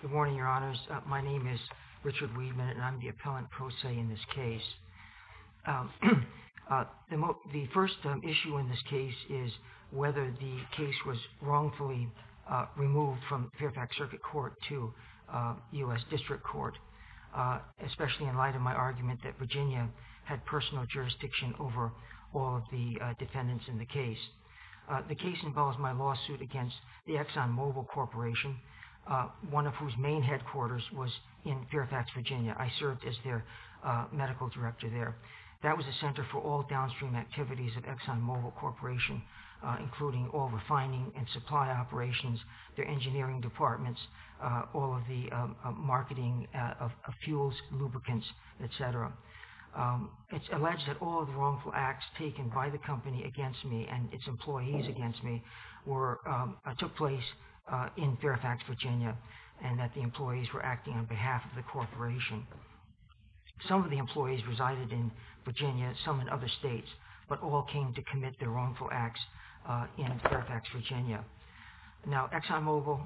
Good morning, your honors. My name is Richard Weidman and I'm the appellant pro se in this case. The first issue in this case is whether the case was wrongfully removed from Fairfax Circuit Court to U.S. District Court, especially in light of my argument that Virginia had personal jurisdiction over all of the defendants in the case. The case involves my lawsuit against the Exxon Mobil Corporation, one of whose main headquarters was in Fairfax, Virginia. I served as their medical director there. That was a center for all downstream activities of Exxon Mobil Corporation, including all refining and supply operations, their engineering departments, all of the marketing of fuels, lubricants, etc. It's alleged that all of the wrongful acts taken by the company and its employees against me took place in Fairfax, Virginia, and that the employees were acting on behalf of the corporation. Some of the employees resided in Virginia, some in other states, but all came to commit their wrongful acts in Fairfax, Virginia. Now, Exxon Mobil,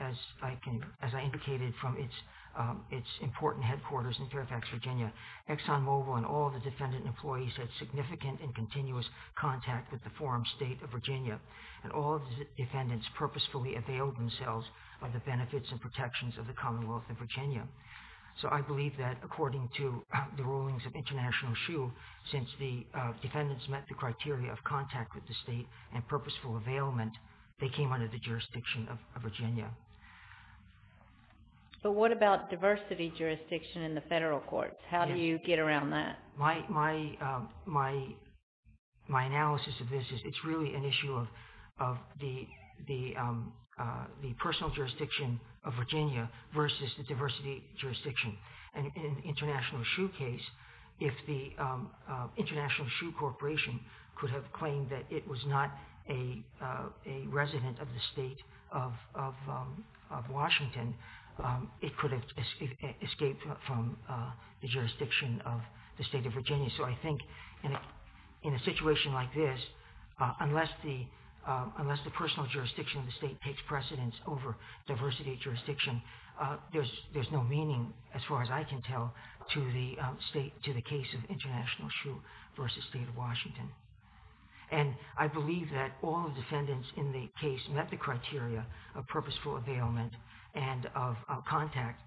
as I indicated from its important headquarters in Fairfax, Virginia, Exxon Mobil and all the defendant employees had significant and continuous contact with the forum state of Virginia, and all the defendants purposefully availed themselves of the benefits and protections of the Commonwealth of Virginia. So I believe that, according to the rulings of International Shoe, since the defendants met the criteria of contact with the state and purposeful availment, they came under the jurisdiction of Virginia. But what about diversity jurisdiction in the federal courts? How do you get around that? My analysis of this is it's really an issue of the personal jurisdiction of Virginia versus the diversity jurisdiction. In the International Shoe case, if the International Shoe Corporation could have claimed that it was not a resident of the state of Washington, it could have escaped from the jurisdiction of the state of Virginia. So I think in a situation like this, unless the personal jurisdiction of the state takes precedence over diversity jurisdiction, there's no meaning, as far as I can tell, to the case of International Shoe versus state of Washington. And I believe that all the defendants in the case met the criteria of purposeful availment and of contact.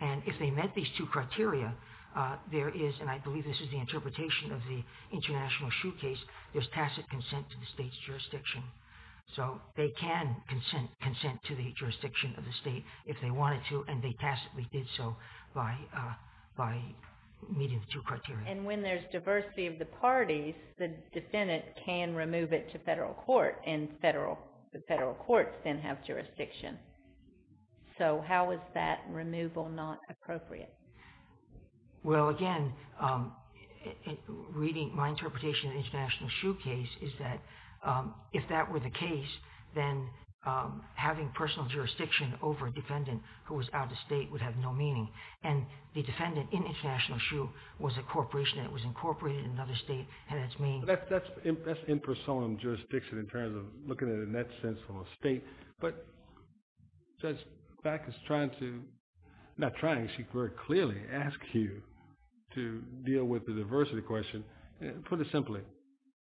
And if they met these two criteria, there is, and I believe this is the interpretation of the International Shoe case, there's tacit consent to the state's jurisdiction. So they can consent to the jurisdiction of the state if they wanted to, and they tacitly did so by meeting the two criteria. And when there's diversity of the parties, the defendant can remove it to federal court, and the federal courts then have jurisdiction. So how is that removal not appropriate? Well, again, reading my interpretation of the International Shoe case is that if that were the case, then having personal jurisdiction over a state that was out of state would have no meaning. And the defendant in International Shoe was a corporation that was incorporated in another state, and that's meaningful. That's impersonal jurisdiction in terms of looking at it in that sense from a state, but Judge Black is trying to, not trying, she very clearly asks you to deal with the diversity question. Put it simply,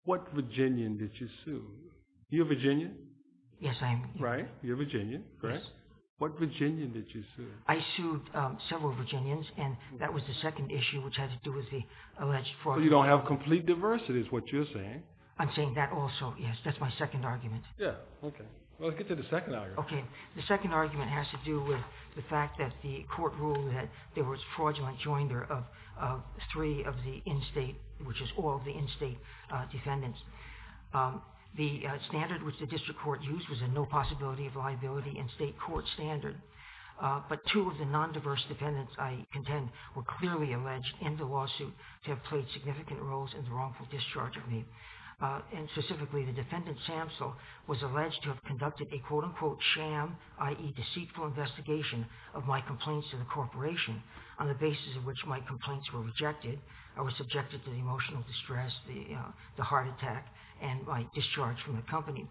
what Virginian did you sue? You're a Virginian? Yes, I am. Right, you're a Virginian, correct? Yes. What Virginian did you sue? I sued several Virginians, and that was the second issue which had to do with the alleged fraud. So you don't have complete diversity is what you're saying? I'm saying that also, yes, that's my second argument. Yeah, okay. Well, let's get to the second argument. Okay, the second argument has to do with the fact that the court ruled that there was fraudulent joinder of three of the in-state, which is all the in-state defendants. The standard which the district court used was a no possibility of liability in-state court standard, but two of the non-diverse defendants I contend were clearly alleged in the lawsuit to have played significant roles in the wrongful discharge of me. And specifically, the defendant Samsell was alleged to have conducted a quote-unquote sham, i.e. deceitful investigation of my complaints to the corporation on the basis of which my complaints were rejected, I was subjected to the emotional distress, the heart attack, and my discharge from the company.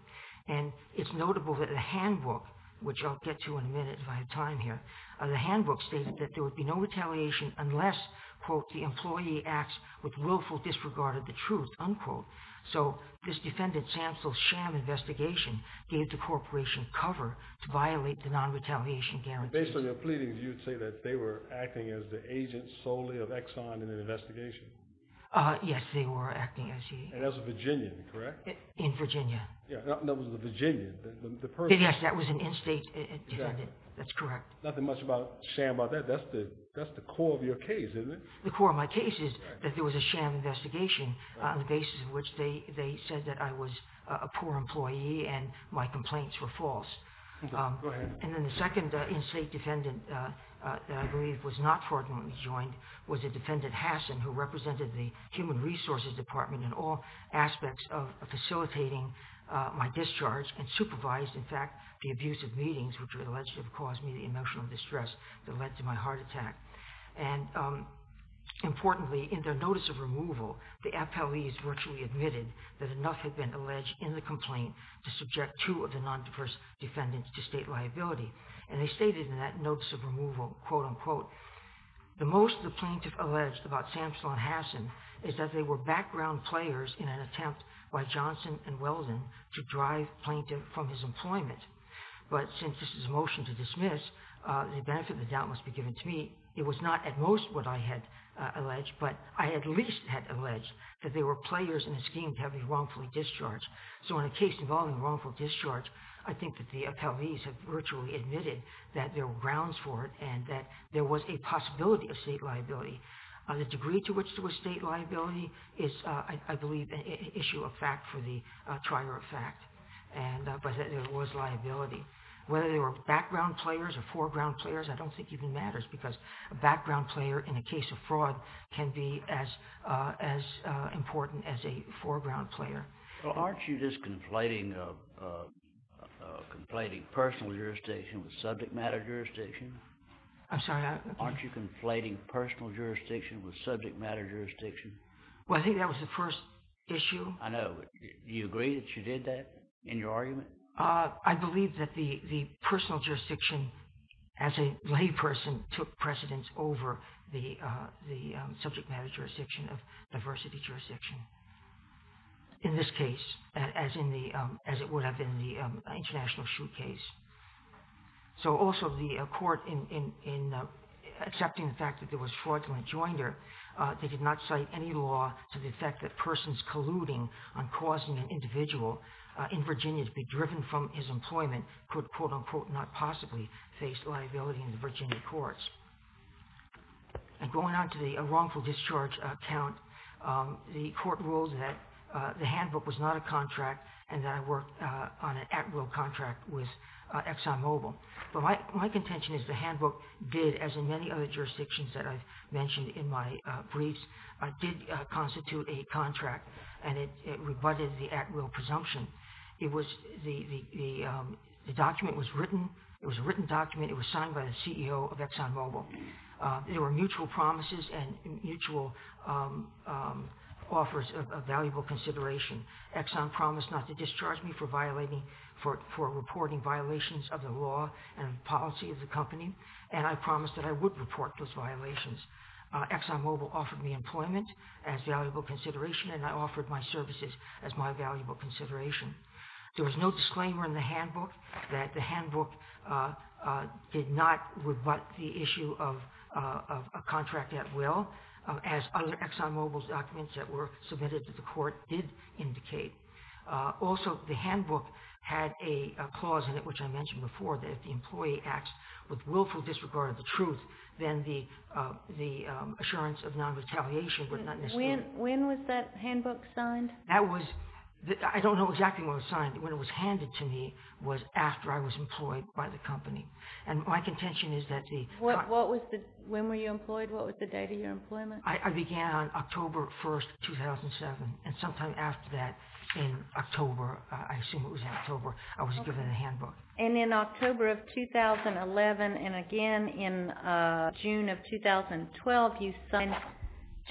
And it's notable that the handbook, which I'll get to in a minute if I have time here, the handbook stated that there would be no retaliation unless, quote, the employee acts with willful disregard of the truth, unquote. So this defendant Samsell's sham investigation gave the corporation cover to violate the non-retaliation guarantee. Based on your investigation? Yes, they were acting as he... And as a Virginian, correct? In Virginia. Yeah, that was a Virginian, the person... Yes, that was an in-state defendant. That's correct. Nothing much about sham about that. That's the core of your case, isn't it? The core of my case is that there was a sham investigation on the basis of which they said that I was a poor employee and my complaints were false. And then the second in-state defendant that I believe was not fraudulently joined was a defendant, Hasson, who represented the human resources department in all aspects of facilitating my discharge and supervised, in fact, the abusive meetings which were alleged to have caused me the emotional distress that led to my heart attack. And importantly, in their notice of removal, the FLEs virtually admitted that enough had been alleged in the complaint to subject two of the non-diverse defendants to state liability. And they stated in that notice of removal, quote-unquote, the most the plaintiff alleged about Samson and Hasson is that they were background players in an attempt by Johnson and Weldon to drive plaintiff from his employment. But since this is a motion to dismiss, the benefit of the doubt must be given to me. It was not at most what I had alleged, but I at least had alleged that they were players in a scheme to have me wrongfully discharged. So in a case involving wrongful discharge, I think that the FLEs have virtually admitted that there were grounds for it and that there was a possibility of state liability. The degree to which there was state liability is, I believe, an issue of fact for the trier of fact, but that there was liability. Whether they were background players or foreground players, I don't think even matters because a background player in a case of fraud can be as conflating personal jurisdiction with subject matter jurisdiction. I'm sorry? Aren't you conflating personal jurisdiction with subject matter jurisdiction? Well, I think that was the first issue. I know. Do you agree that you did that in your argument? I believe that the personal jurisdiction as a lay person took precedence over the subject jurisdiction of diversity jurisdiction, in this case, as it would have been the international shoot case. So also the court, in accepting the fact that there was fraudulent joinder, they did not cite any law to the effect that persons colluding on causing an individual in Virginia to be driven from his employment could, quote unquote, not possibly face liability in the Virginia courts. And going on to the wrongful discharge account, the court ruled that the handbook was not a contract and that I worked on an at-will contract with ExxonMobil. But my contention is the handbook did, as in many other jurisdictions that I've mentioned in my briefs, did constitute a contract and it rebutted the at-will presumption. The document was written. It was a written agreement with the CEO of ExxonMobil. There were mutual promises and mutual offers of valuable consideration. Exxon promised not to discharge me for violating, for reporting violations of the law and policy of the company, and I promised that I would report those violations. ExxonMobil offered me employment as valuable consideration and I offered my services as my valuable consideration. There was no disclaimer in the handbook that the would rebut the issue of a contract at will, as other ExxonMobil's documents that were submitted to the court did indicate. Also, the handbook had a clause in it, which I mentioned before, that if the employee acts with willful disregard of the truth, then the assurance of non-retaliation would not necessarily... When was that handbook signed? That was... I don't know exactly when it was signed. When it was handed to me was after I was employed by the company. When were you employed? What was the date of your employment? I began on October 1, 2007, and sometime after that, in October, I assume it was in October, I was given a handbook. And in October of 2011 and again in June of 2012, you signed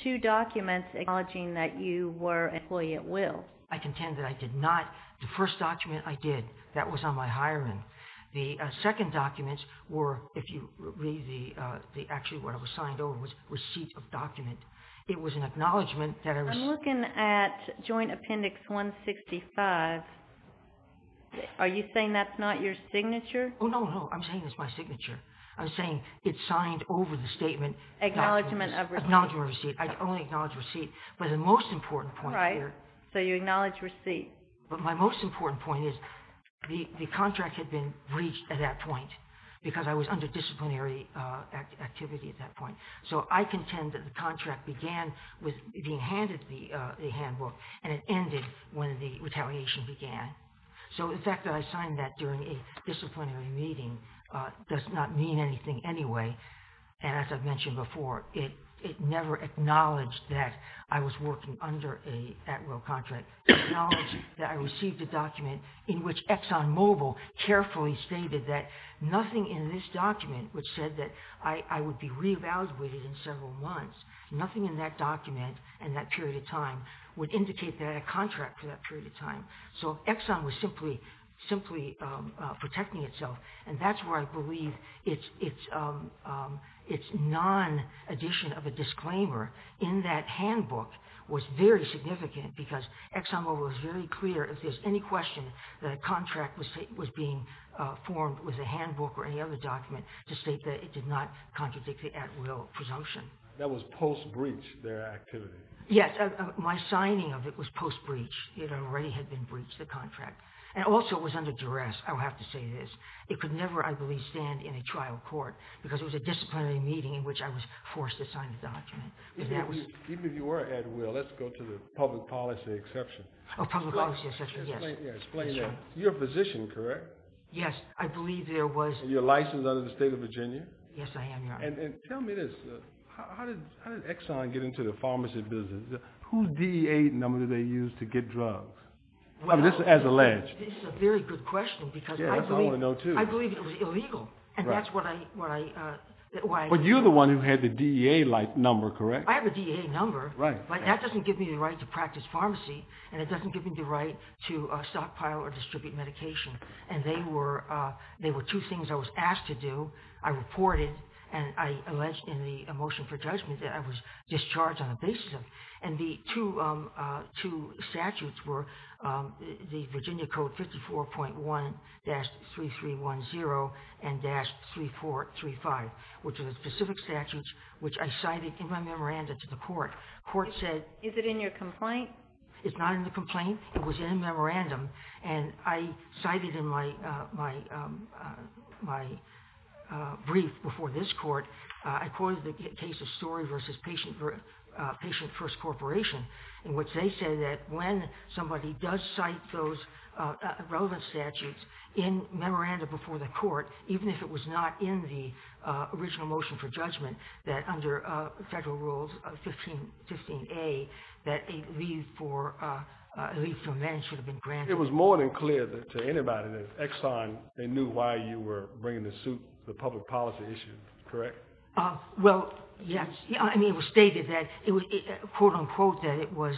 two documents acknowledging that you were an employee at will. I contend that I did not. The first document I did, that was on my resume, actually what I was signed over was receipt of document. It was an acknowledgement that I was... I'm looking at joint appendix 165. Are you saying that's not your signature? Oh, no, no. I'm saying it's my signature. I'm saying it's signed over the statement... Acknowledgement of receipt. Acknowledgement of receipt. I only acknowledge receipt. But the most important point here... Right. So you acknowledge receipt. But my most important point is the contract had been breached at that point because I was under disciplinary activity at that point. So I contend that the contract began with being handed the handbook and it ended when the retaliation began. So the fact that I signed that during a disciplinary meeting does not mean anything anyway. And as I've mentioned before, it never acknowledged that I was working under a at-will contract. It acknowledged that I received a document in which ExxonMobil carefully stated that nothing in this document which said that I would be re-evaluated in several months, nothing in that document in that period of time would indicate that I had a contract for that period of time. So Exxon was simply protecting itself. And that's where I believe its non-addition of a disclaimer in that handbook was very significant because ExxonMobil was very clear if there's any question that a contract was being formed with a handbook or any other document to state that it did not contradict the at-will presumption. That was post-breach their activity. Yes. My signing of it was post-breach. It already had been breached, the contract. And also it was under duress, I would have to say this. It could never, I believe, stand in a trial court because it was a disciplinary meeting in which I was forced to sign the document. Even if you were at-will, let's go to the public policy exception. Oh, public policy exception, yes. Explain that. You're a physician, correct? Yes, I believe there was... You're licensed under the state of Virginia? Yes, I am, Your Honor. And tell me this. How did Exxon get into the pharmacy business? Whose DEA number did they use to get drugs? This is as alleged. This is a very good question because... Yes, I want to know too. I believe it was illegal. Right. And that's why I... But you're the one who had the DEA number, correct? I have a DEA number, but that doesn't give me the right to practice pharmacy and it doesn't give me the right to stockpile or distribute medication. And they were two things I was asked to do. I reported and I alleged in the motion for judgment that I was discharged on the basis of... And the two statutes were the Virginia Code 54.1-3310 and-3435, which are the specific statutes which I cited in my memoranda to the court. The court said... Is it in your complaint? It's not in the complaint. It was in a memorandum. And I cited in my brief before this court, I quoted the case of Story v. Patient First Corporation in which they said that when somebody does cite those relevant statutes in memoranda before the court, even if it was not in the original motion for judgment, that under federal rules 15A, that a leave for men should have been granted. It was more than clear to anybody that Exxon, they knew why you were bringing the suit, the public policy issue, correct? Well, yes. I mean, it was stated that, quote, unquote, that it was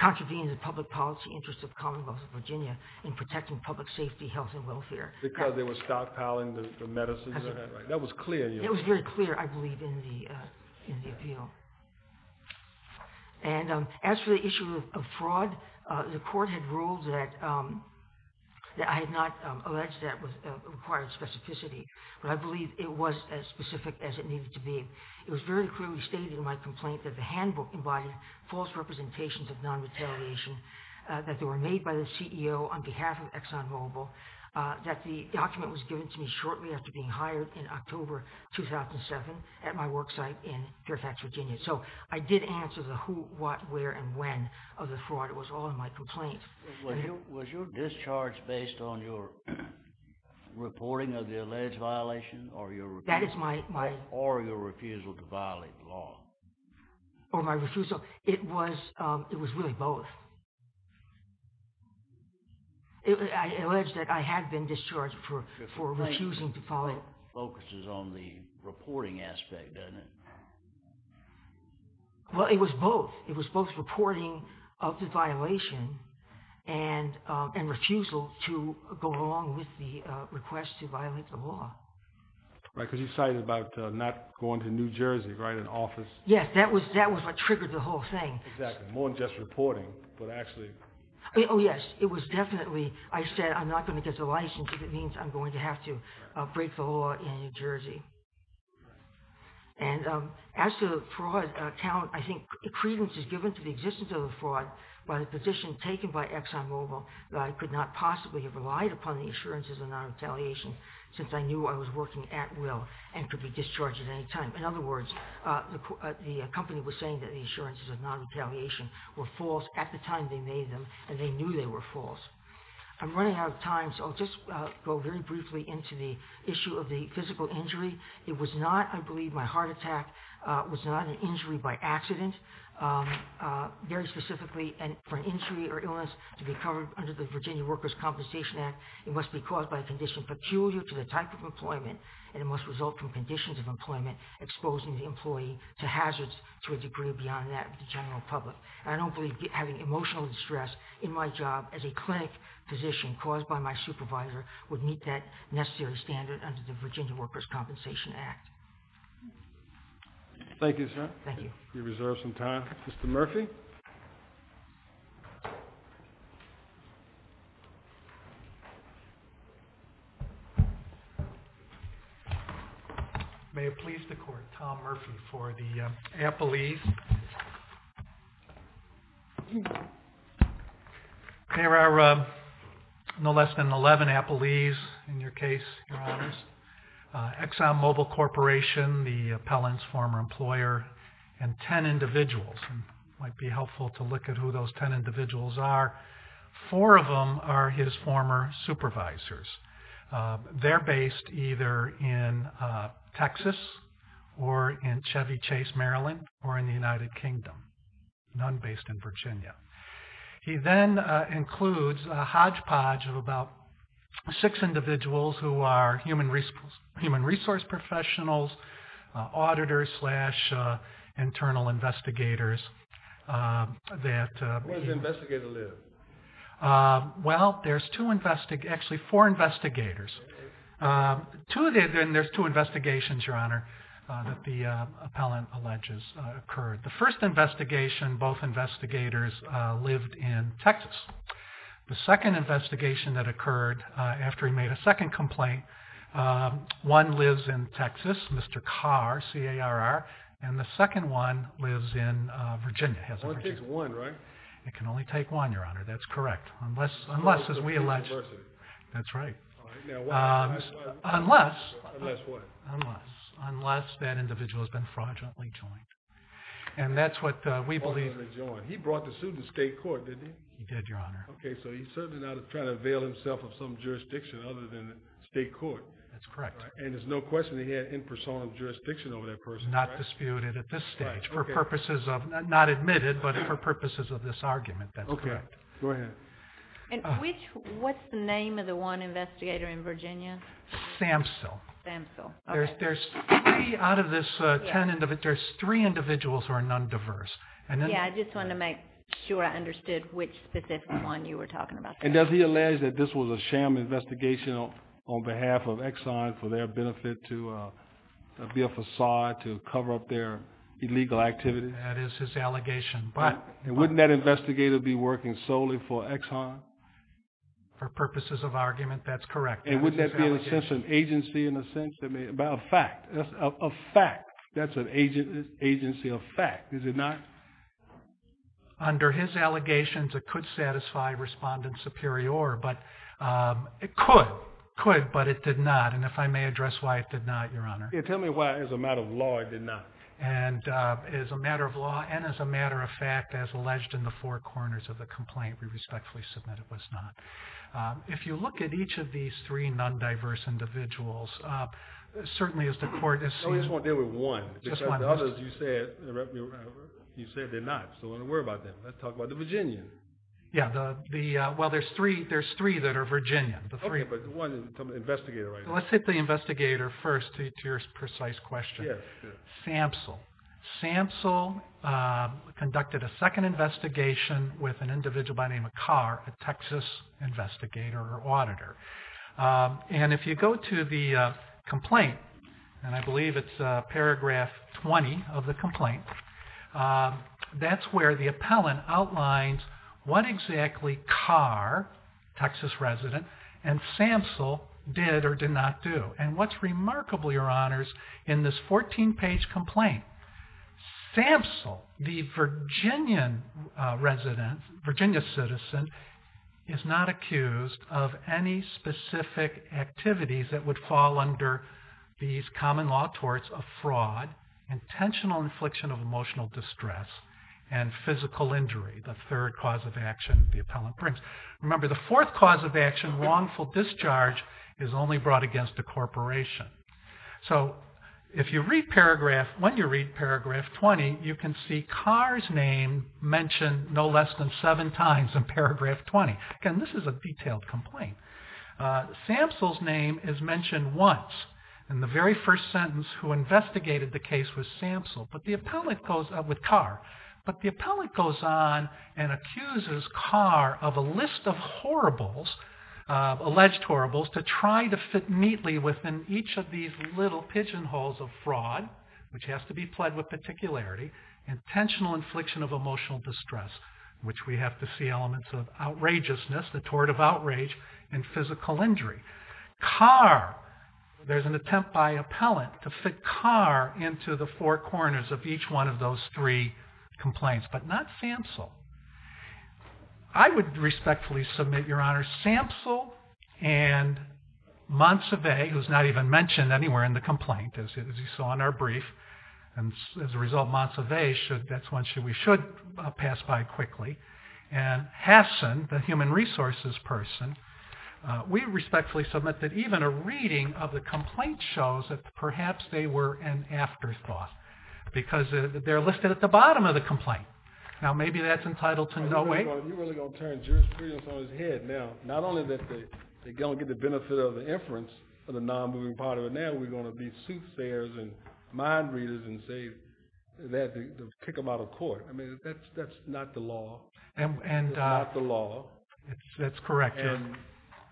contravening the public policy interests of the Commonwealth of Virginia in protecting public safety, health, and welfare. Because they were stockpiling the medicines and that, right? That was clear. It was very clear, I believe, in the appeal. And as for the issue of fraud, the court had ruled that I had not alleged that it required specificity, but I believe it was as specific as it needed to be. It was very clearly stated in my complaint that the handbook invited false representations of non-retaliation, that they were made by the CEO on behalf of ExxonMobil, that the document was given to me shortly after being hired in October 2007 at my work site in Fairfax, Virginia. So I did answer the who, what, where, and when of the fraud. It was all in my complaint. Was your discharge based on your reporting of the alleged violation or your refusal to violate law? Or my refusal? It was really both. I alleged that I had been discharged for refusing to follow it. Focuses on the reporting aspect, doesn't it? Well, it was both. It was both reporting of the violation and refusal to go along with the request to violate the law. Right, because you cited about not going to New Jersey, right, in office. Yes, that was what triggered the whole thing. Exactly. More than just reporting, but actually... Oh yes, it was definitely... I said I'm not going to get the license if it means I'm going to have to break the law in New Jersey. And as to fraud, I think credence is given to the existence of the fraud by the position taken by ExxonMobil that I could not possibly have relied upon the assurances of non-retaliation since I knew I was working at will and could be discharged at any time. In other words, the company was saying that the assurances of non-retaliation were false at the time they made them, and they knew they were false. I'm running out of time, so I'll just go very briefly into the issue of the physical injury. It was not, I believe, my heart attack. It was not an injury by accident. Very specifically, for an injury or illness to be covered under the Virginia Workers' Compensation Act, it must be caused by a condition peculiar to the type of employment, and it must result from conditions of employment exposing the employee to hazards to a degree beyond that of the general public. I don't believe having emotional distress in my job as a clinic physician caused by my supervisor would meet that necessary standard under the Virginia Workers' Compensation Act. Thank you, sir. Thank you. We reserve some time. Mr. Murphy? May it please the Court, Tom Murphy for the appellees. There are no less than 11 appellees in your case, Your Honors. ExxonMobil Corporation, the appellant's former employer, and 10 individuals. It might be helpful to look at who those 10 individuals are. Four of them are his former supervisors. They're based either in Texas or in Chevy Chase, Maryland, or in the United Kingdom, none based in Virginia. He then includes a hodgepodge of about six individuals who are human resource professionals, auditors slash internal investigators. Where does the investigator live? Well, there's two, actually four investigators. Two of them, there's two investigations, Your Honor, that the appellant alleges occurred. The first investigation, both investigators lived in Texas. The second investigation that occurred after he made a second complaint, one lives in Texas, Mr. Carr, C-A-R-R, and the second one lives in Virginia. One takes one, right? It can only take one, Your Honor, that's correct. Unless, as we allege, that's right. Unless, unless that individual has been fraudulently joined, and that's what we believe. He brought the suit to state court, didn't he? He did, Your Honor. Okay, so he's certainly not trying to avail himself of some jurisdiction other than state court. That's correct. And there's no question that he had impersonal jurisdiction over that person, right? Not disputed at this stage, for purposes of, not admitted, but for purposes of this argument, that's correct. Okay, go ahead. And which, what's the name of the one investigator in Virginia? Samsell. Samsell, okay. There's three out of this ten, there's three individuals who are non-diverse. Yeah, I just wanted to make sure I understood which specific one you were talking about. And does he allege that this was a sham investigation on behalf of Exxon for their benefit to be a facade to cover up their illegal activity? That is his allegation, but. And wouldn't that investigator be working solely for Exxon? For purposes of argument, that's correct. And wouldn't that be in a sense an agency, in a sense, a fact, a fact. That's an agency of fact, is it not? Under his allegations, it could satisfy Respondent Superior, but it could, could, but it did not. And if I may address why it did not, Your Honor. Yeah, tell me why as a matter of law it did not. And as a matter of law, and as a matter of fact, as alleged in the four corners of the complaint, we respectfully submit it was not. If you look at each of these three non-diverse individuals, certainly as the court has seen. I just want to deal with one. Just one. The others you said, you said they're not. So I don't worry about them. Let's talk about the Virginians. Yeah, the, the, well, there's three, there's three that are Virginian, the three. Okay, but the one, the investigator right now. Let's hit the investigator first to your precise question. Yeah, sure. Samsel. Samsel conducted a second investigation with an individual by name of Carr, a Texas investigator or auditor. And if you go to the complaint, and I believe it's paragraph 20 of the complaint, that's where the appellant outlines what exactly Carr, Texas resident, and Samsel did or did not do. And what's remarkable, Your Honors, in this 14-page complaint, Samsel, the Virginian resident, Virginia citizen, is not accused of any specific activities that would fall under these common law torts of fraud, intentional infliction of emotional distress, and physical injury, the third cause of action the appellant brings. Remember, the fourth cause of action, wrongful discharge, is only brought against a corporation. So if you read paragraph, when you read paragraph 20, you can see Carr's name mentioned no less than seven times in paragraph 20. Again, this is a detailed complaint. Samsel's name is mentioned once. In the very first sentence, who investigated the case was Samsel, but the appellant goes up with Carr. But the appellant goes on and accuses Carr of a list of horribles, alleged horribles, to try to fit neatly within each of these little pigeonholes of fraud, which has to be pled with particularity, intentional infliction of emotional distress, which we have to see elements of outrageousness, the tort of outrage, and physical injury. Carr, there's an attempt by appellant to fit Carr into the four corners of each one of those three complaints, but not Samsel. I would respectfully submit, Your Honor, Samsel and Monsivais, who's not even mentioned anywhere in the complaint, as you saw in our brief, and as a result, Monsivais, that's one we should pass by quickly, and Hasson, the human resources person, we respectfully submit that even a reading of the complaint shows that perhaps they were an afterthought, because they're listed at the bottom of the complaint. Now, maybe that's entitled to no weight. You're really going to turn jurisprudence on its head. Now, not only that they don't get the benefit of the inference of the non-moving part of it, now we're going to be soothsayers and mind readers and say that to kick them out of court. I mean, that's not the law. And that's not the law. That's correct. And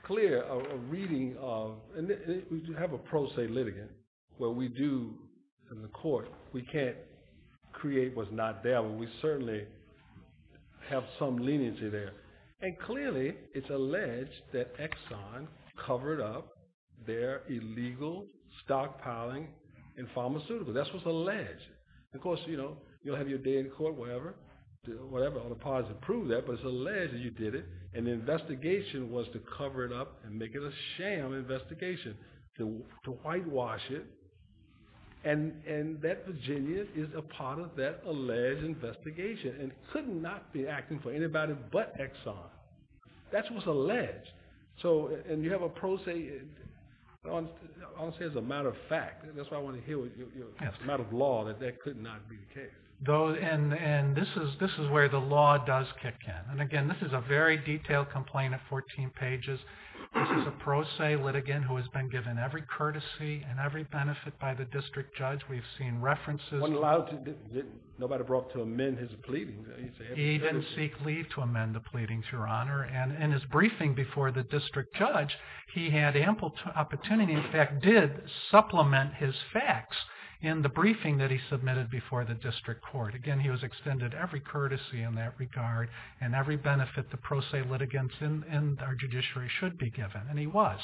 clear, a reading of, and we have a pro se litigant, what we do in the court, we can't say that Section 338 was not there, but we certainly have some leniency there. And clearly, it's alleged that Exxon covered up their illegal stockpiling in pharmaceuticals. That's what's alleged. Of course, you know, you'll have your day in court, whatever, whatever, all the powers to prove that, but it's alleged that you did it, and the investigation was to cover it up and make it a sham investigation, to whitewash it. And that Virginia is a part of that alleged investigation and could not be acting for anybody but Exxon. That's what's alleged. So, and you have a pro se, honestly, as a matter of fact, that's what I want to hear with you, as a matter of law, that that could not be the case. Though, and this is where the law does kick in. And again, this is a very detailed complaint at 14 pages. This is a pro se litigant who has been given every courtesy and every benefit by the district judge. We've seen references. Wasn't allowed, nobody brought to amend his pleading. He didn't seek leave to amend the pleadings, Your Honor. And in his briefing before the district judge, he had ample opportunity, in fact, did supplement his facts in the briefing that he submitted before the district court. Again, he was extended every courtesy in that regard and every benefit the pro se litigants and our judiciary should be given. And he was.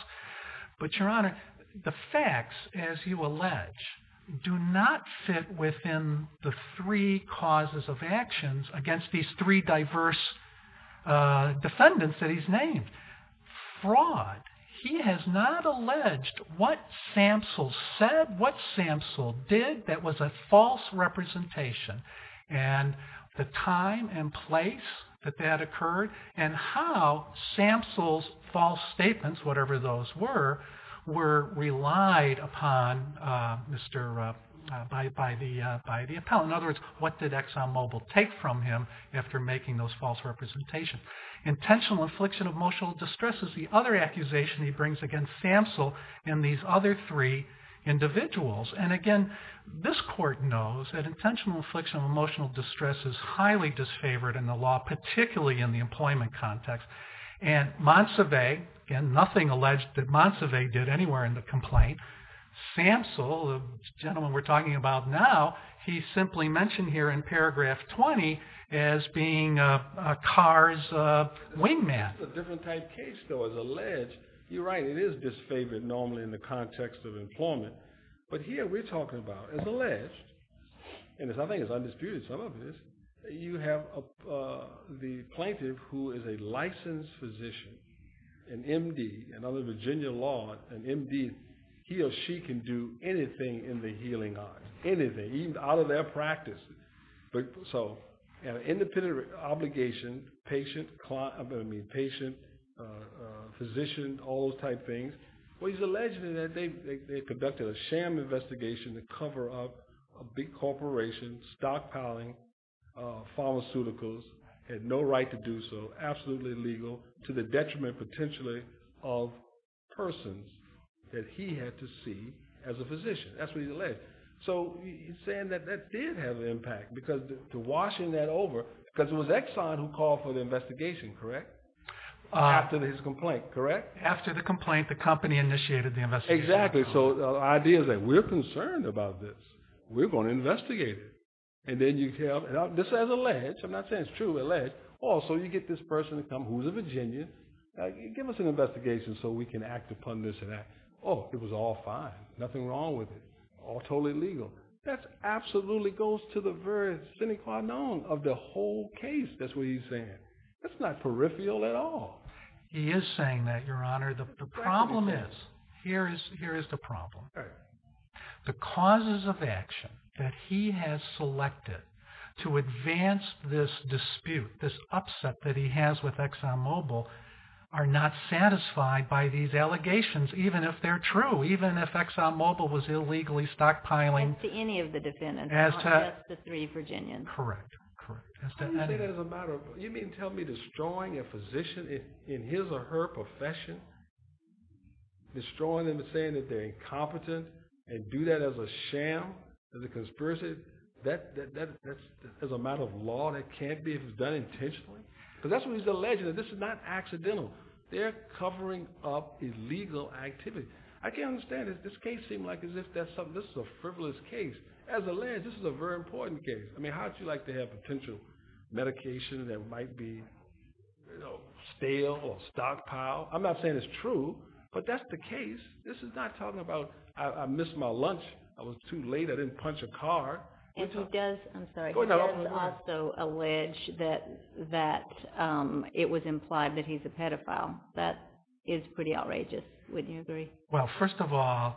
But, Your Honor, the facts, as you allege, do not fit within the three causes of actions against these three diverse defendants that he's named. Fraud. He has not alleged what Samsell said, what Samsell did that was a false representation. And the time and place that that occurred and how Samsell's false statements, whatever those were, were relied upon by the appellant. In other words, what did Exxon Mobil take from him after making those false representations? Intentional infliction of emotional distress is the other accusation he brings against Samsell and these other three individuals. And again, this court knows that intentional infliction of emotional distress is highly disfavored in the law, particularly in the employment context. And Montsevier, again, nothing alleged that Montsevier did anywhere in the complaint. Samsell, the gentleman we're talking about now, he simply mentioned here in paragraph 20 as being Carr's wingman. It's a different type case, though, as alleged. You're right. It is disfavored normally in the context of employment. But here we're talking about, as alleged, and I think it's undisputed, some of this, you have the plaintiff who is a licensed physician, an MD, another Virginia law, an MD, he or she can do anything in the healing arms, anything, even out of their practice. So independent obligation, patient, physician, all those type things. Well, he's alleging that they conducted a sham investigation to cover up a big corporation, stockpiling pharmaceuticals, had no right to do so, absolutely illegal, to the detriment potentially of persons that he had to see as a physician. That's what he's alleging. So he's saying that that did have an impact. Because to washing that over, because it was Exxon who called for the investigation, correct? After his complaint, correct? After the complaint, the company initiated the investigation. Exactly. So the idea is that we're concerned about this. We're going to investigate it. And then you have, this is alleged, I'm not saying it's true, alleged. Also, you get this person to come who's a Virginian, give us an investigation so we can act upon this and that. Oh, it was all fine. Nothing wrong with it. All totally legal. That absolutely goes to the very sine qua non of the whole case. That's what he's saying. That's not peripheral at all. He is saying that, Your Honor. The problem is, here is the problem. The causes of action that he has selected to advance this dispute, this upset that he has with ExxonMobil, are not satisfied by these allegations, even if they're true. Even if ExxonMobil was illegally stockpiling. As to any of the defendants, not just the three Virginians. Correct, correct. How do you say that as a matter of, you mean tell me, destroying a physician in his or her profession? Destroying them and saying that they're incompetent and do that as a sham, as a conspiracy? As a matter of law, that can't be if it's done intentionally? Because that's what he's alleging. This is not accidental. They're covering up illegal activity. I can't understand it. This case seems like as if that's something, this is a frivolous case. As alleged, this is a very important case. How would you like to have potential medication that might be stale or stockpiled? I'm not saying it's true, but that's the case. This is not talking about, I missed my lunch. I was too late. I didn't punch a card. And he does, I'm sorry, he does also allege that it was implied that he's a pedophile. That is pretty outrageous. Wouldn't you agree? Well, first of all,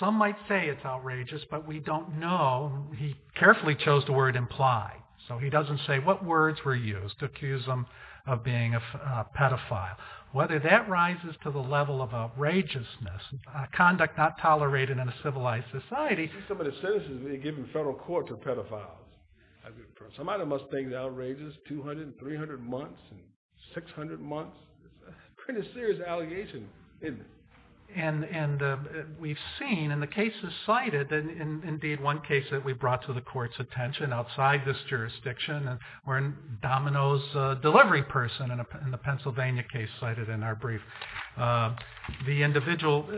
some might say it's outrageous, but we don't know. He carefully chose the word implied. So he doesn't say what words were used to accuse him of being a pedophile. Whether that rises to the level of outrageousness, conduct not tolerated in a civilized society. Some of the sentences given in federal court for pedophiles. Some of them must think it's outrageous. 200, 300 months, 600 months. It's a pretty serious allegation, isn't it? And we've seen in the cases cited, and indeed one case that we brought to the court's attention outside this jurisdiction, where Domino's delivery person in the Pennsylvania case cited in our brief, the individual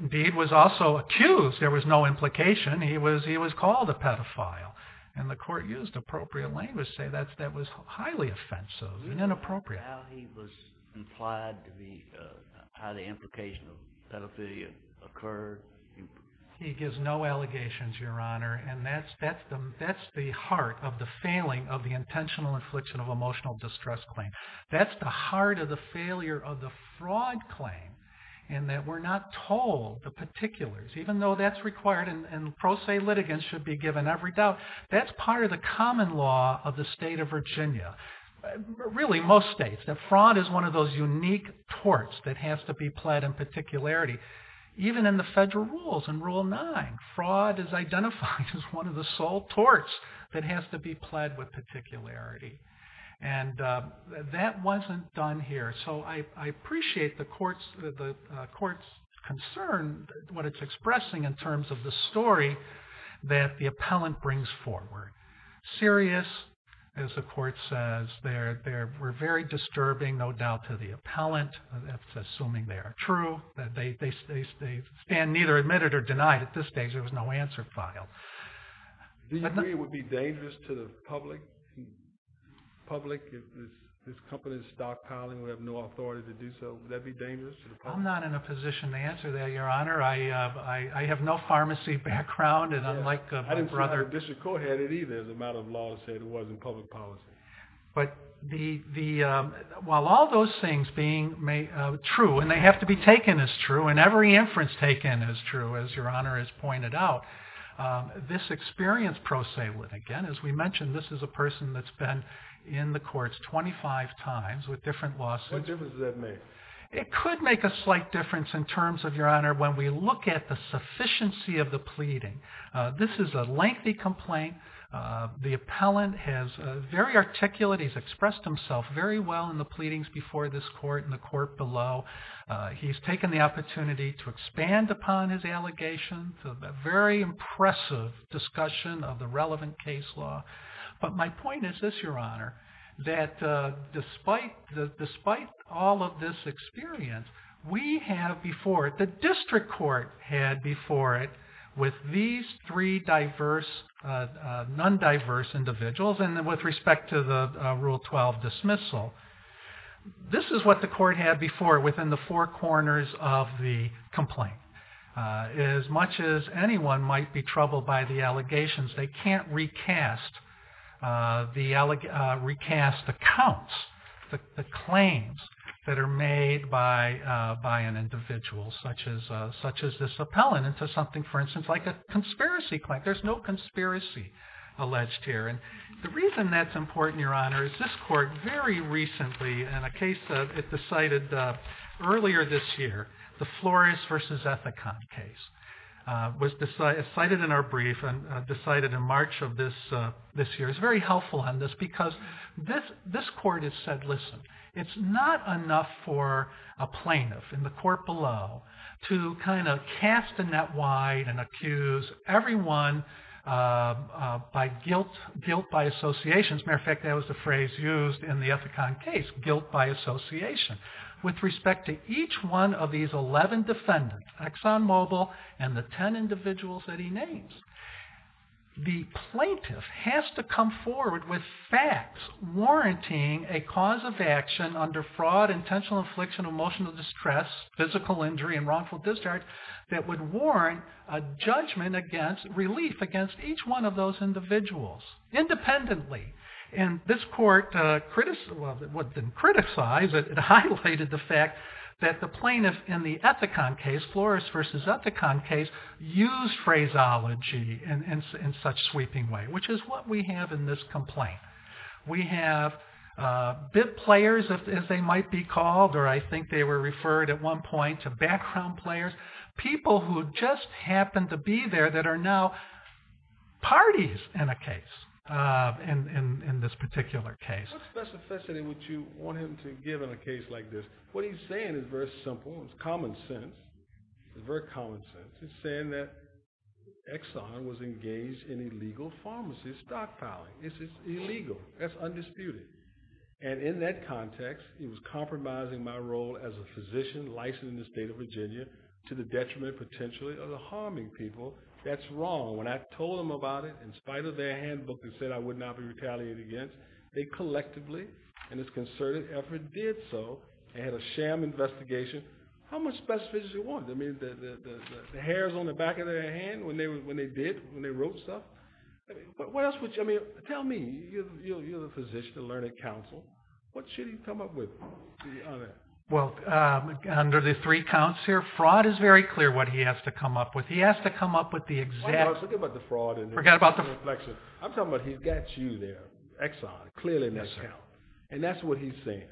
indeed was also accused. There was no implication. He was called a pedophile. And the court used appropriate language to say that was highly offensive and inappropriate. How he was implied to be, how the implication of pedophilia occurred. He gives no allegations, your honor. And that's the heart of the failing of the intentional infliction of emotional distress claim. That's the heart of the failure of the fraud claim. And that we're not told the particulars, even though that's required and pro se litigants should be given every doubt. That's part of the common law of the state of Virginia. Really, most states. That fraud is one of those unique torts that has to be pled in particularity. Even in the federal rules, in Rule 9, fraud is identified as one of the sole torts that has to be pled with particularity. And that wasn't done here. So I appreciate the court's concern, what it's expressing in terms of the story that the appellant brings forward. Serious, as the court says. They were very disturbing, no doubt, to the appellant. That's assuming they are true. That they stand neither admitted or denied. At this stage, there was no answer file. Do you agree it would be dangerous to the public if this company's stockpiling would have no authority to do so? Would that be dangerous to the public? I'm not in a position to answer that, your honor. I have no pharmacy background. I didn't think the district court had it either, the amount of lawsuits there was in public policy. But while all those things being true, and they have to be taken as true, and every inference taken is true, as your honor has pointed out, this experience pro se would. Again, as we mentioned, this is a person that's been in the courts 25 times with different lawsuits. What difference does that make? It could make a slight difference in terms of, your honor, when we look at the sufficiency of the pleading. This is a lengthy complaint. The appellant has very articulate. He's expressed himself very well in the pleadings before this court and the court below. He's taken the opportunity to expand upon his allegations, a very impressive discussion of the relevant case law. But my point is this, your honor, that despite all of this experience, we have before it, the district court had before it, with these three diverse, non-diverse individuals, and with respect to the Rule 12 dismissal, this is what the court had before it within the four corners of the complaint. As much as anyone might be troubled by the allegations, they can't recast the accounts, the claims that are made by an individual such as this appellant into something, for instance, like a conspiracy claim. There's no conspiracy alleged here. And the reason that's important, your honor, is this court very recently in a case it decided earlier this year, the Flores versus Ethicon case was decided in our brief and decided in March of this year. It's very helpful on this because this court has said, listen, it's not enough for a plaintiff in the court below to kind of cast the net wide and accuse everyone by guilt, guilt by associations. Matter of fact, that was the phrase used in the Ethicon case, guilt by association. With respect to each one of these 11 defendants, Exxon Mobil and the 10 individuals that he plaintiff has to come forward with facts warranting a cause of action under fraud, intentional affliction, emotional distress, physical injury, and wrongful discharge that would warrant a judgment against relief against each one of those individuals independently. And this court criticized, well, it didn't criticize, it highlighted the fact that the which is what we have in this complaint. We have bid players, as they might be called, or I think they were referred at one point to background players, people who just happened to be there that are now parties in a case, in this particular case. What specificity would you want him to give in a case like this? What he's saying is very simple. It's common sense. It's very common sense. It's saying that Exxon was engaged in illegal pharmacy stockpiling. This is illegal. That's undisputed. And in that context, he was compromising my role as a physician licensed in the state of Virginia to the detriment potentially of the harming people. That's wrong. When I told them about it, in spite of their handbook that said I would not be retaliated against, they collectively, in this concerted effort, did so. They had a sham investigation. How much specificity do you want? I mean, the hairs on the back of their hand when they did, when they wrote stuff? What else would you? I mean, tell me, you're a physician, a learned counsel. What should he come up with? Well, under the three counts here, fraud is very clear what he has to come up with. He has to come up with the exact- Hold on. Let's talk about the fraud and the reflection. I'm talking about he's got you there, Exxon, clearly miscount. And that's what he's saying.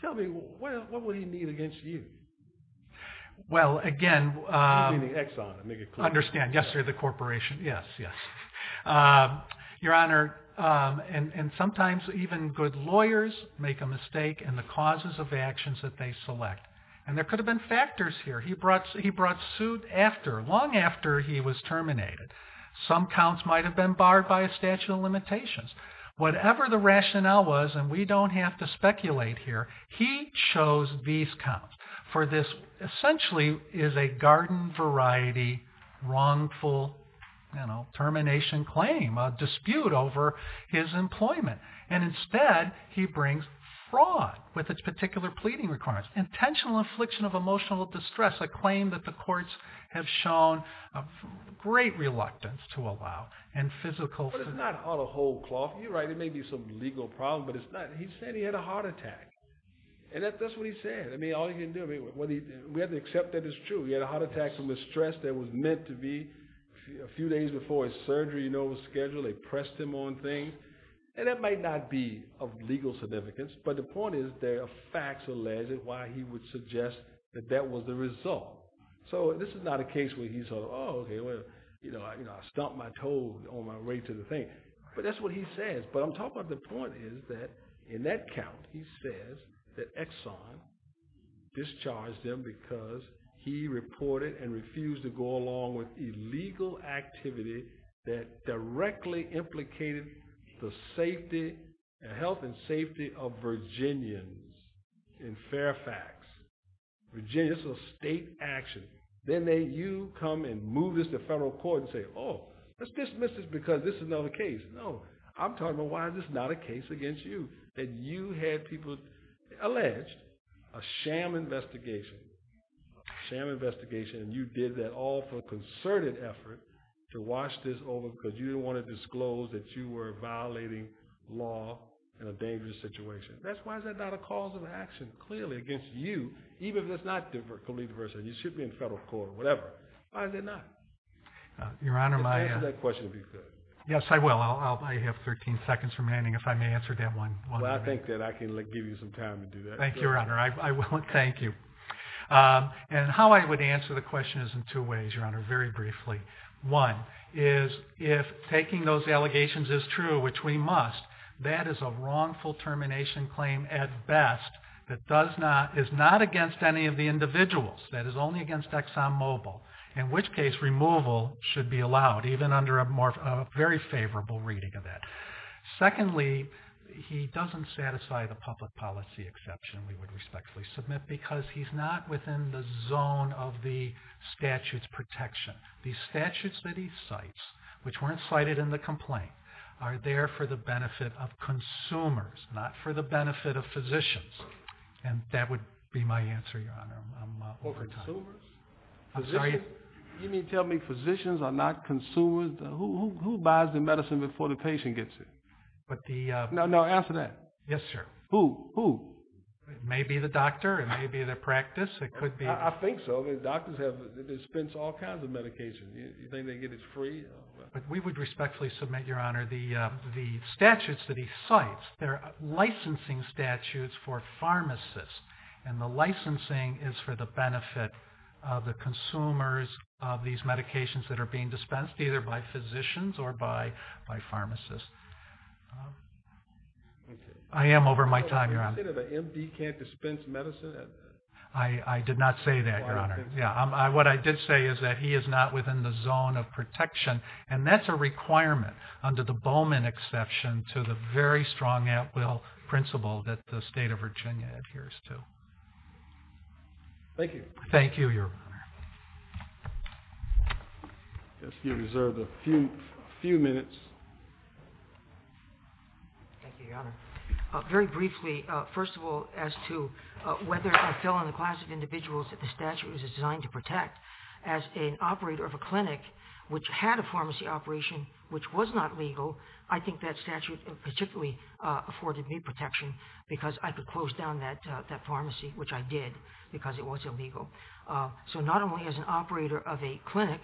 Tell me, what would he need against you? Well, again- I mean the Exxon, to make it clear. Understand, yes, or the corporation. Yes, yes. Your Honor, and sometimes even good lawyers make a mistake in the causes of actions that they select. And there could have been factors here. He brought suit after, long after he was terminated. Some counts might have been barred by a statute of limitations. Whatever the rationale was, and we don't have to speculate here, he chose these counts. For this, essentially, is a garden variety, wrongful termination claim, a dispute over his employment. And instead, he brings fraud with its particular pleading requirements. Intentional infliction of emotional distress, a claim that the courts have shown great reluctance to allow, and physical- But it's not out of whole cloth. You're right. There may be some legal problem, but it's not. He said he had a heart attack. And that's what he said. All he can do, we have to accept that it's true. He had a heart attack from a stress that was meant to be. A few days before his surgery was scheduled, they pressed him on things. And that might not be of legal significance, but the point is, there are facts alleged why he would suggest that that was the result. So this is not a case where he's sort of, oh, okay, well, I stomped my toes on my way to the thing. But that's what he says. I'm talking about the point is that in that count, he says that Exxon discharged him because he reported and refused to go along with illegal activity that directly implicated the health and safety of Virginians in Fairfax. Virginians, so state action. Then you come and move this to federal court and say, oh, let's dismiss this because this is another case. No, I'm talking about why this is not a case against you, that you had people alleged a sham investigation, a sham investigation, and you did that all for a concerted effort to wash this over because you didn't want to disclose that you were violating law in a dangerous situation. That's why that's not a cause of action, clearly, against you, even if that's not completely the first time. You should be in federal court or whatever. Why is it not? Your Honor, my question would be good. Yes, I will. I have 13 seconds remaining if I may answer that one. Well, I think that I can give you some time to do that. Thank you, Your Honor. I will. Thank you. And how I would answer the question is in two ways, Your Honor, very briefly. One is if taking those allegations is true, which we must, that is a wrongful termination claim at best that is not against any of the individuals. That is only against Exxon Mobil, in which case removal should be allowed, even under a very favorable reading of that. Secondly, he doesn't satisfy the public policy exception we would respectfully submit because he's not within the zone of the statute's protection. The statutes that he cites, which weren't cited in the complaint, are there for the benefit of consumers, not for the benefit of physicians. And that would be my answer, Your Honor. For consumers? You mean tell me physicians are not consumers? Who buys the medicine before the patient gets it? No, answer that. Yes, sir. Who? Who? It may be the doctor. It may be their practice. It could be. I think so. The doctors dispense all kinds of medications. You think they get it free? We would respectfully submit, Your Honor, the statutes that he cites, they're licensing statutes for pharmacists. And the licensing is for the benefit of the consumers of these medications that are being dispensed, either by physicians or by pharmacists. I am over my time, Your Honor. You said an MD can't dispense medicine? I did not say that, Your Honor. What I did say is that he is not within the zone of protection, and that's a requirement, under the Bowman exception, to the very strong at-will principle that the state of Virginia adheres to. Thank you. Thank you, Your Honor. I guess you reserved a few minutes. Thank you, Your Honor. Very briefly, first of all, as to whether I fell in the class of individuals that the statute was designed to protect, as an operator of a clinic which had a pharmacy operation, which was not legal, I think that statute particularly afforded me protection because I could close down that pharmacy, which I did, because it was illegal. So not only as an operator of a clinic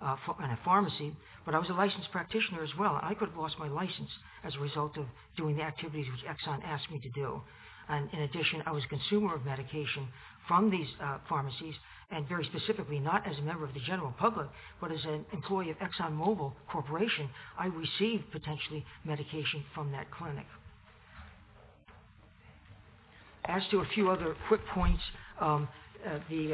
and a pharmacy, but I was a licensed practitioner as well. I could have lost my license as a result of doing the activities which Exxon asked me to do. And in addition, I was a consumer of medication from these pharmacies, and very specifically, not as a member of the general public, but as an employee of Exxon Mobil Corporation, I received, potentially, medication from that clinic. As to a few other quick points, the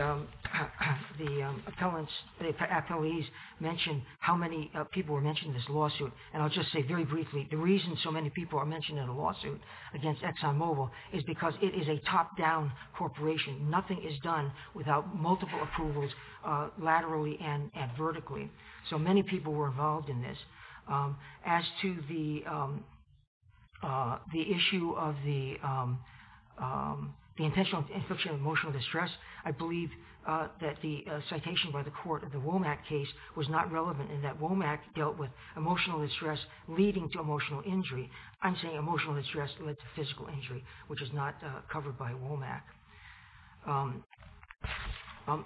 appellants, the appellees mentioned how many people were mentioned in this lawsuit. And I'll just say very briefly, the reason so many people are mentioned in a lawsuit against Exxon Mobil is because it is a top-down corporation. Nothing is done without multiple approvals laterally and vertically. So many people were involved in this. As to the issue of the intentional infliction of emotional distress, I believe that the citation by the court of the Womack case was not relevant in that Womack dealt with emotional distress leading to emotional injury. I'm saying emotional distress led to physical injury, which is not covered by Womack.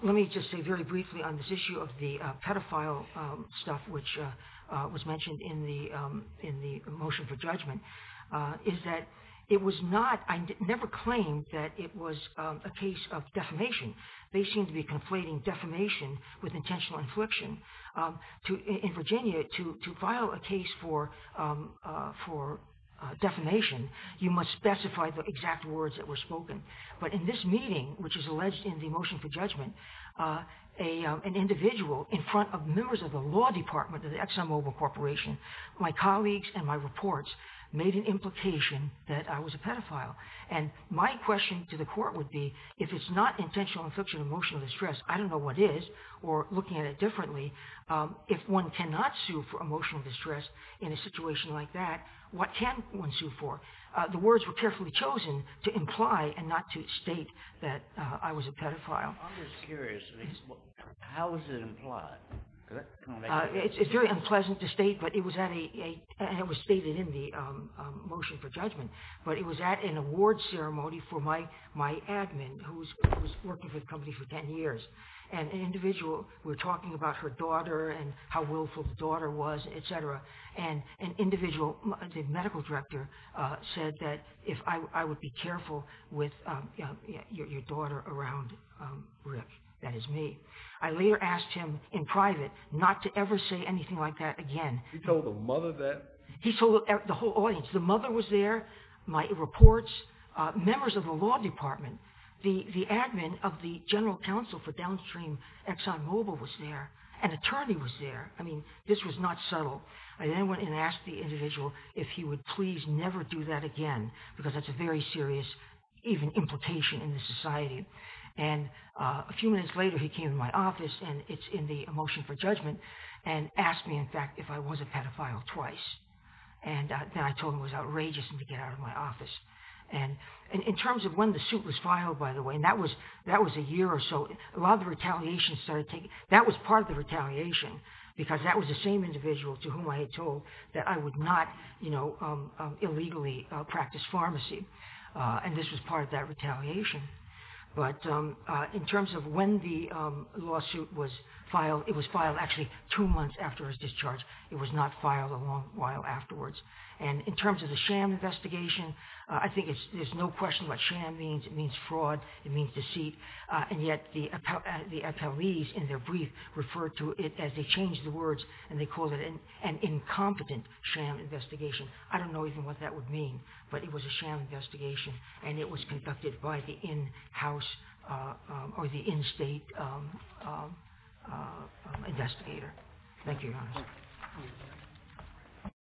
Let me just say very briefly on this issue of the pedophile stuff, which was mentioned in the motion for judgment, is that it was not, I never claimed that it was a case of defamation. They seem to be conflating defamation with intentional infliction. In Virginia, to file a case for defamation, you must specify the exact words that were spoken. But in this meeting, which is alleged in the motion for judgment, an individual in front of members of the law department of the Exxon Mobil Corporation, my colleagues and my reports made an implication that I was a pedophile. And my question to the court would be, if it's not intentional infliction of emotional distress, I don't know what is, or looking at it differently, if one cannot sue for emotional distress in a situation like that, what can one sue for? The words were carefully chosen to imply and not to state that I was a pedophile. I'm just curious, how was it implied? It's very unpleasant to state, but it was stated in the motion for judgment. But it was at an awards ceremony for my admin, who was working for the company for 10 years. And an individual, we were talking about her daughter and how willful the daughter was, and an individual, the medical director said that if I would be careful with your daughter around Rick, that is me. I later asked him in private not to ever say anything like that again. He told the mother that? He told the whole audience. The mother was there, my reports, members of the law department, the admin of the general counsel for downstream Exxon Mobil was there, an attorney was there. This was not subtle. I then went and asked the individual if he would please never do that again, because that's a very serious, even, implication in the society. And a few minutes later, he came to my office, and it's in the motion for judgment, and asked me, in fact, if I was a pedophile twice. And then I told him it was outrageous for him to get out of my office. In terms of when the suit was filed, by the way, and that was a year or so, a lot of the retaliation, because that was the same individual to whom I had told that I would not, you know, illegally practice pharmacy. And this was part of that retaliation. But in terms of when the lawsuit was filed, it was filed actually two months after his discharge. It was not filed a long while afterwards. And in terms of the sham investigation, I think there's no question what sham means. It means fraud. It means deceit. And yet the appellees, in their brief, referred to it as they changed the words, and they called it an incompetent sham investigation. I don't know even what that would mean, but it was a sham investigation, and it was conducted by the in-house or the in-state investigator. Thank you, Your Honor.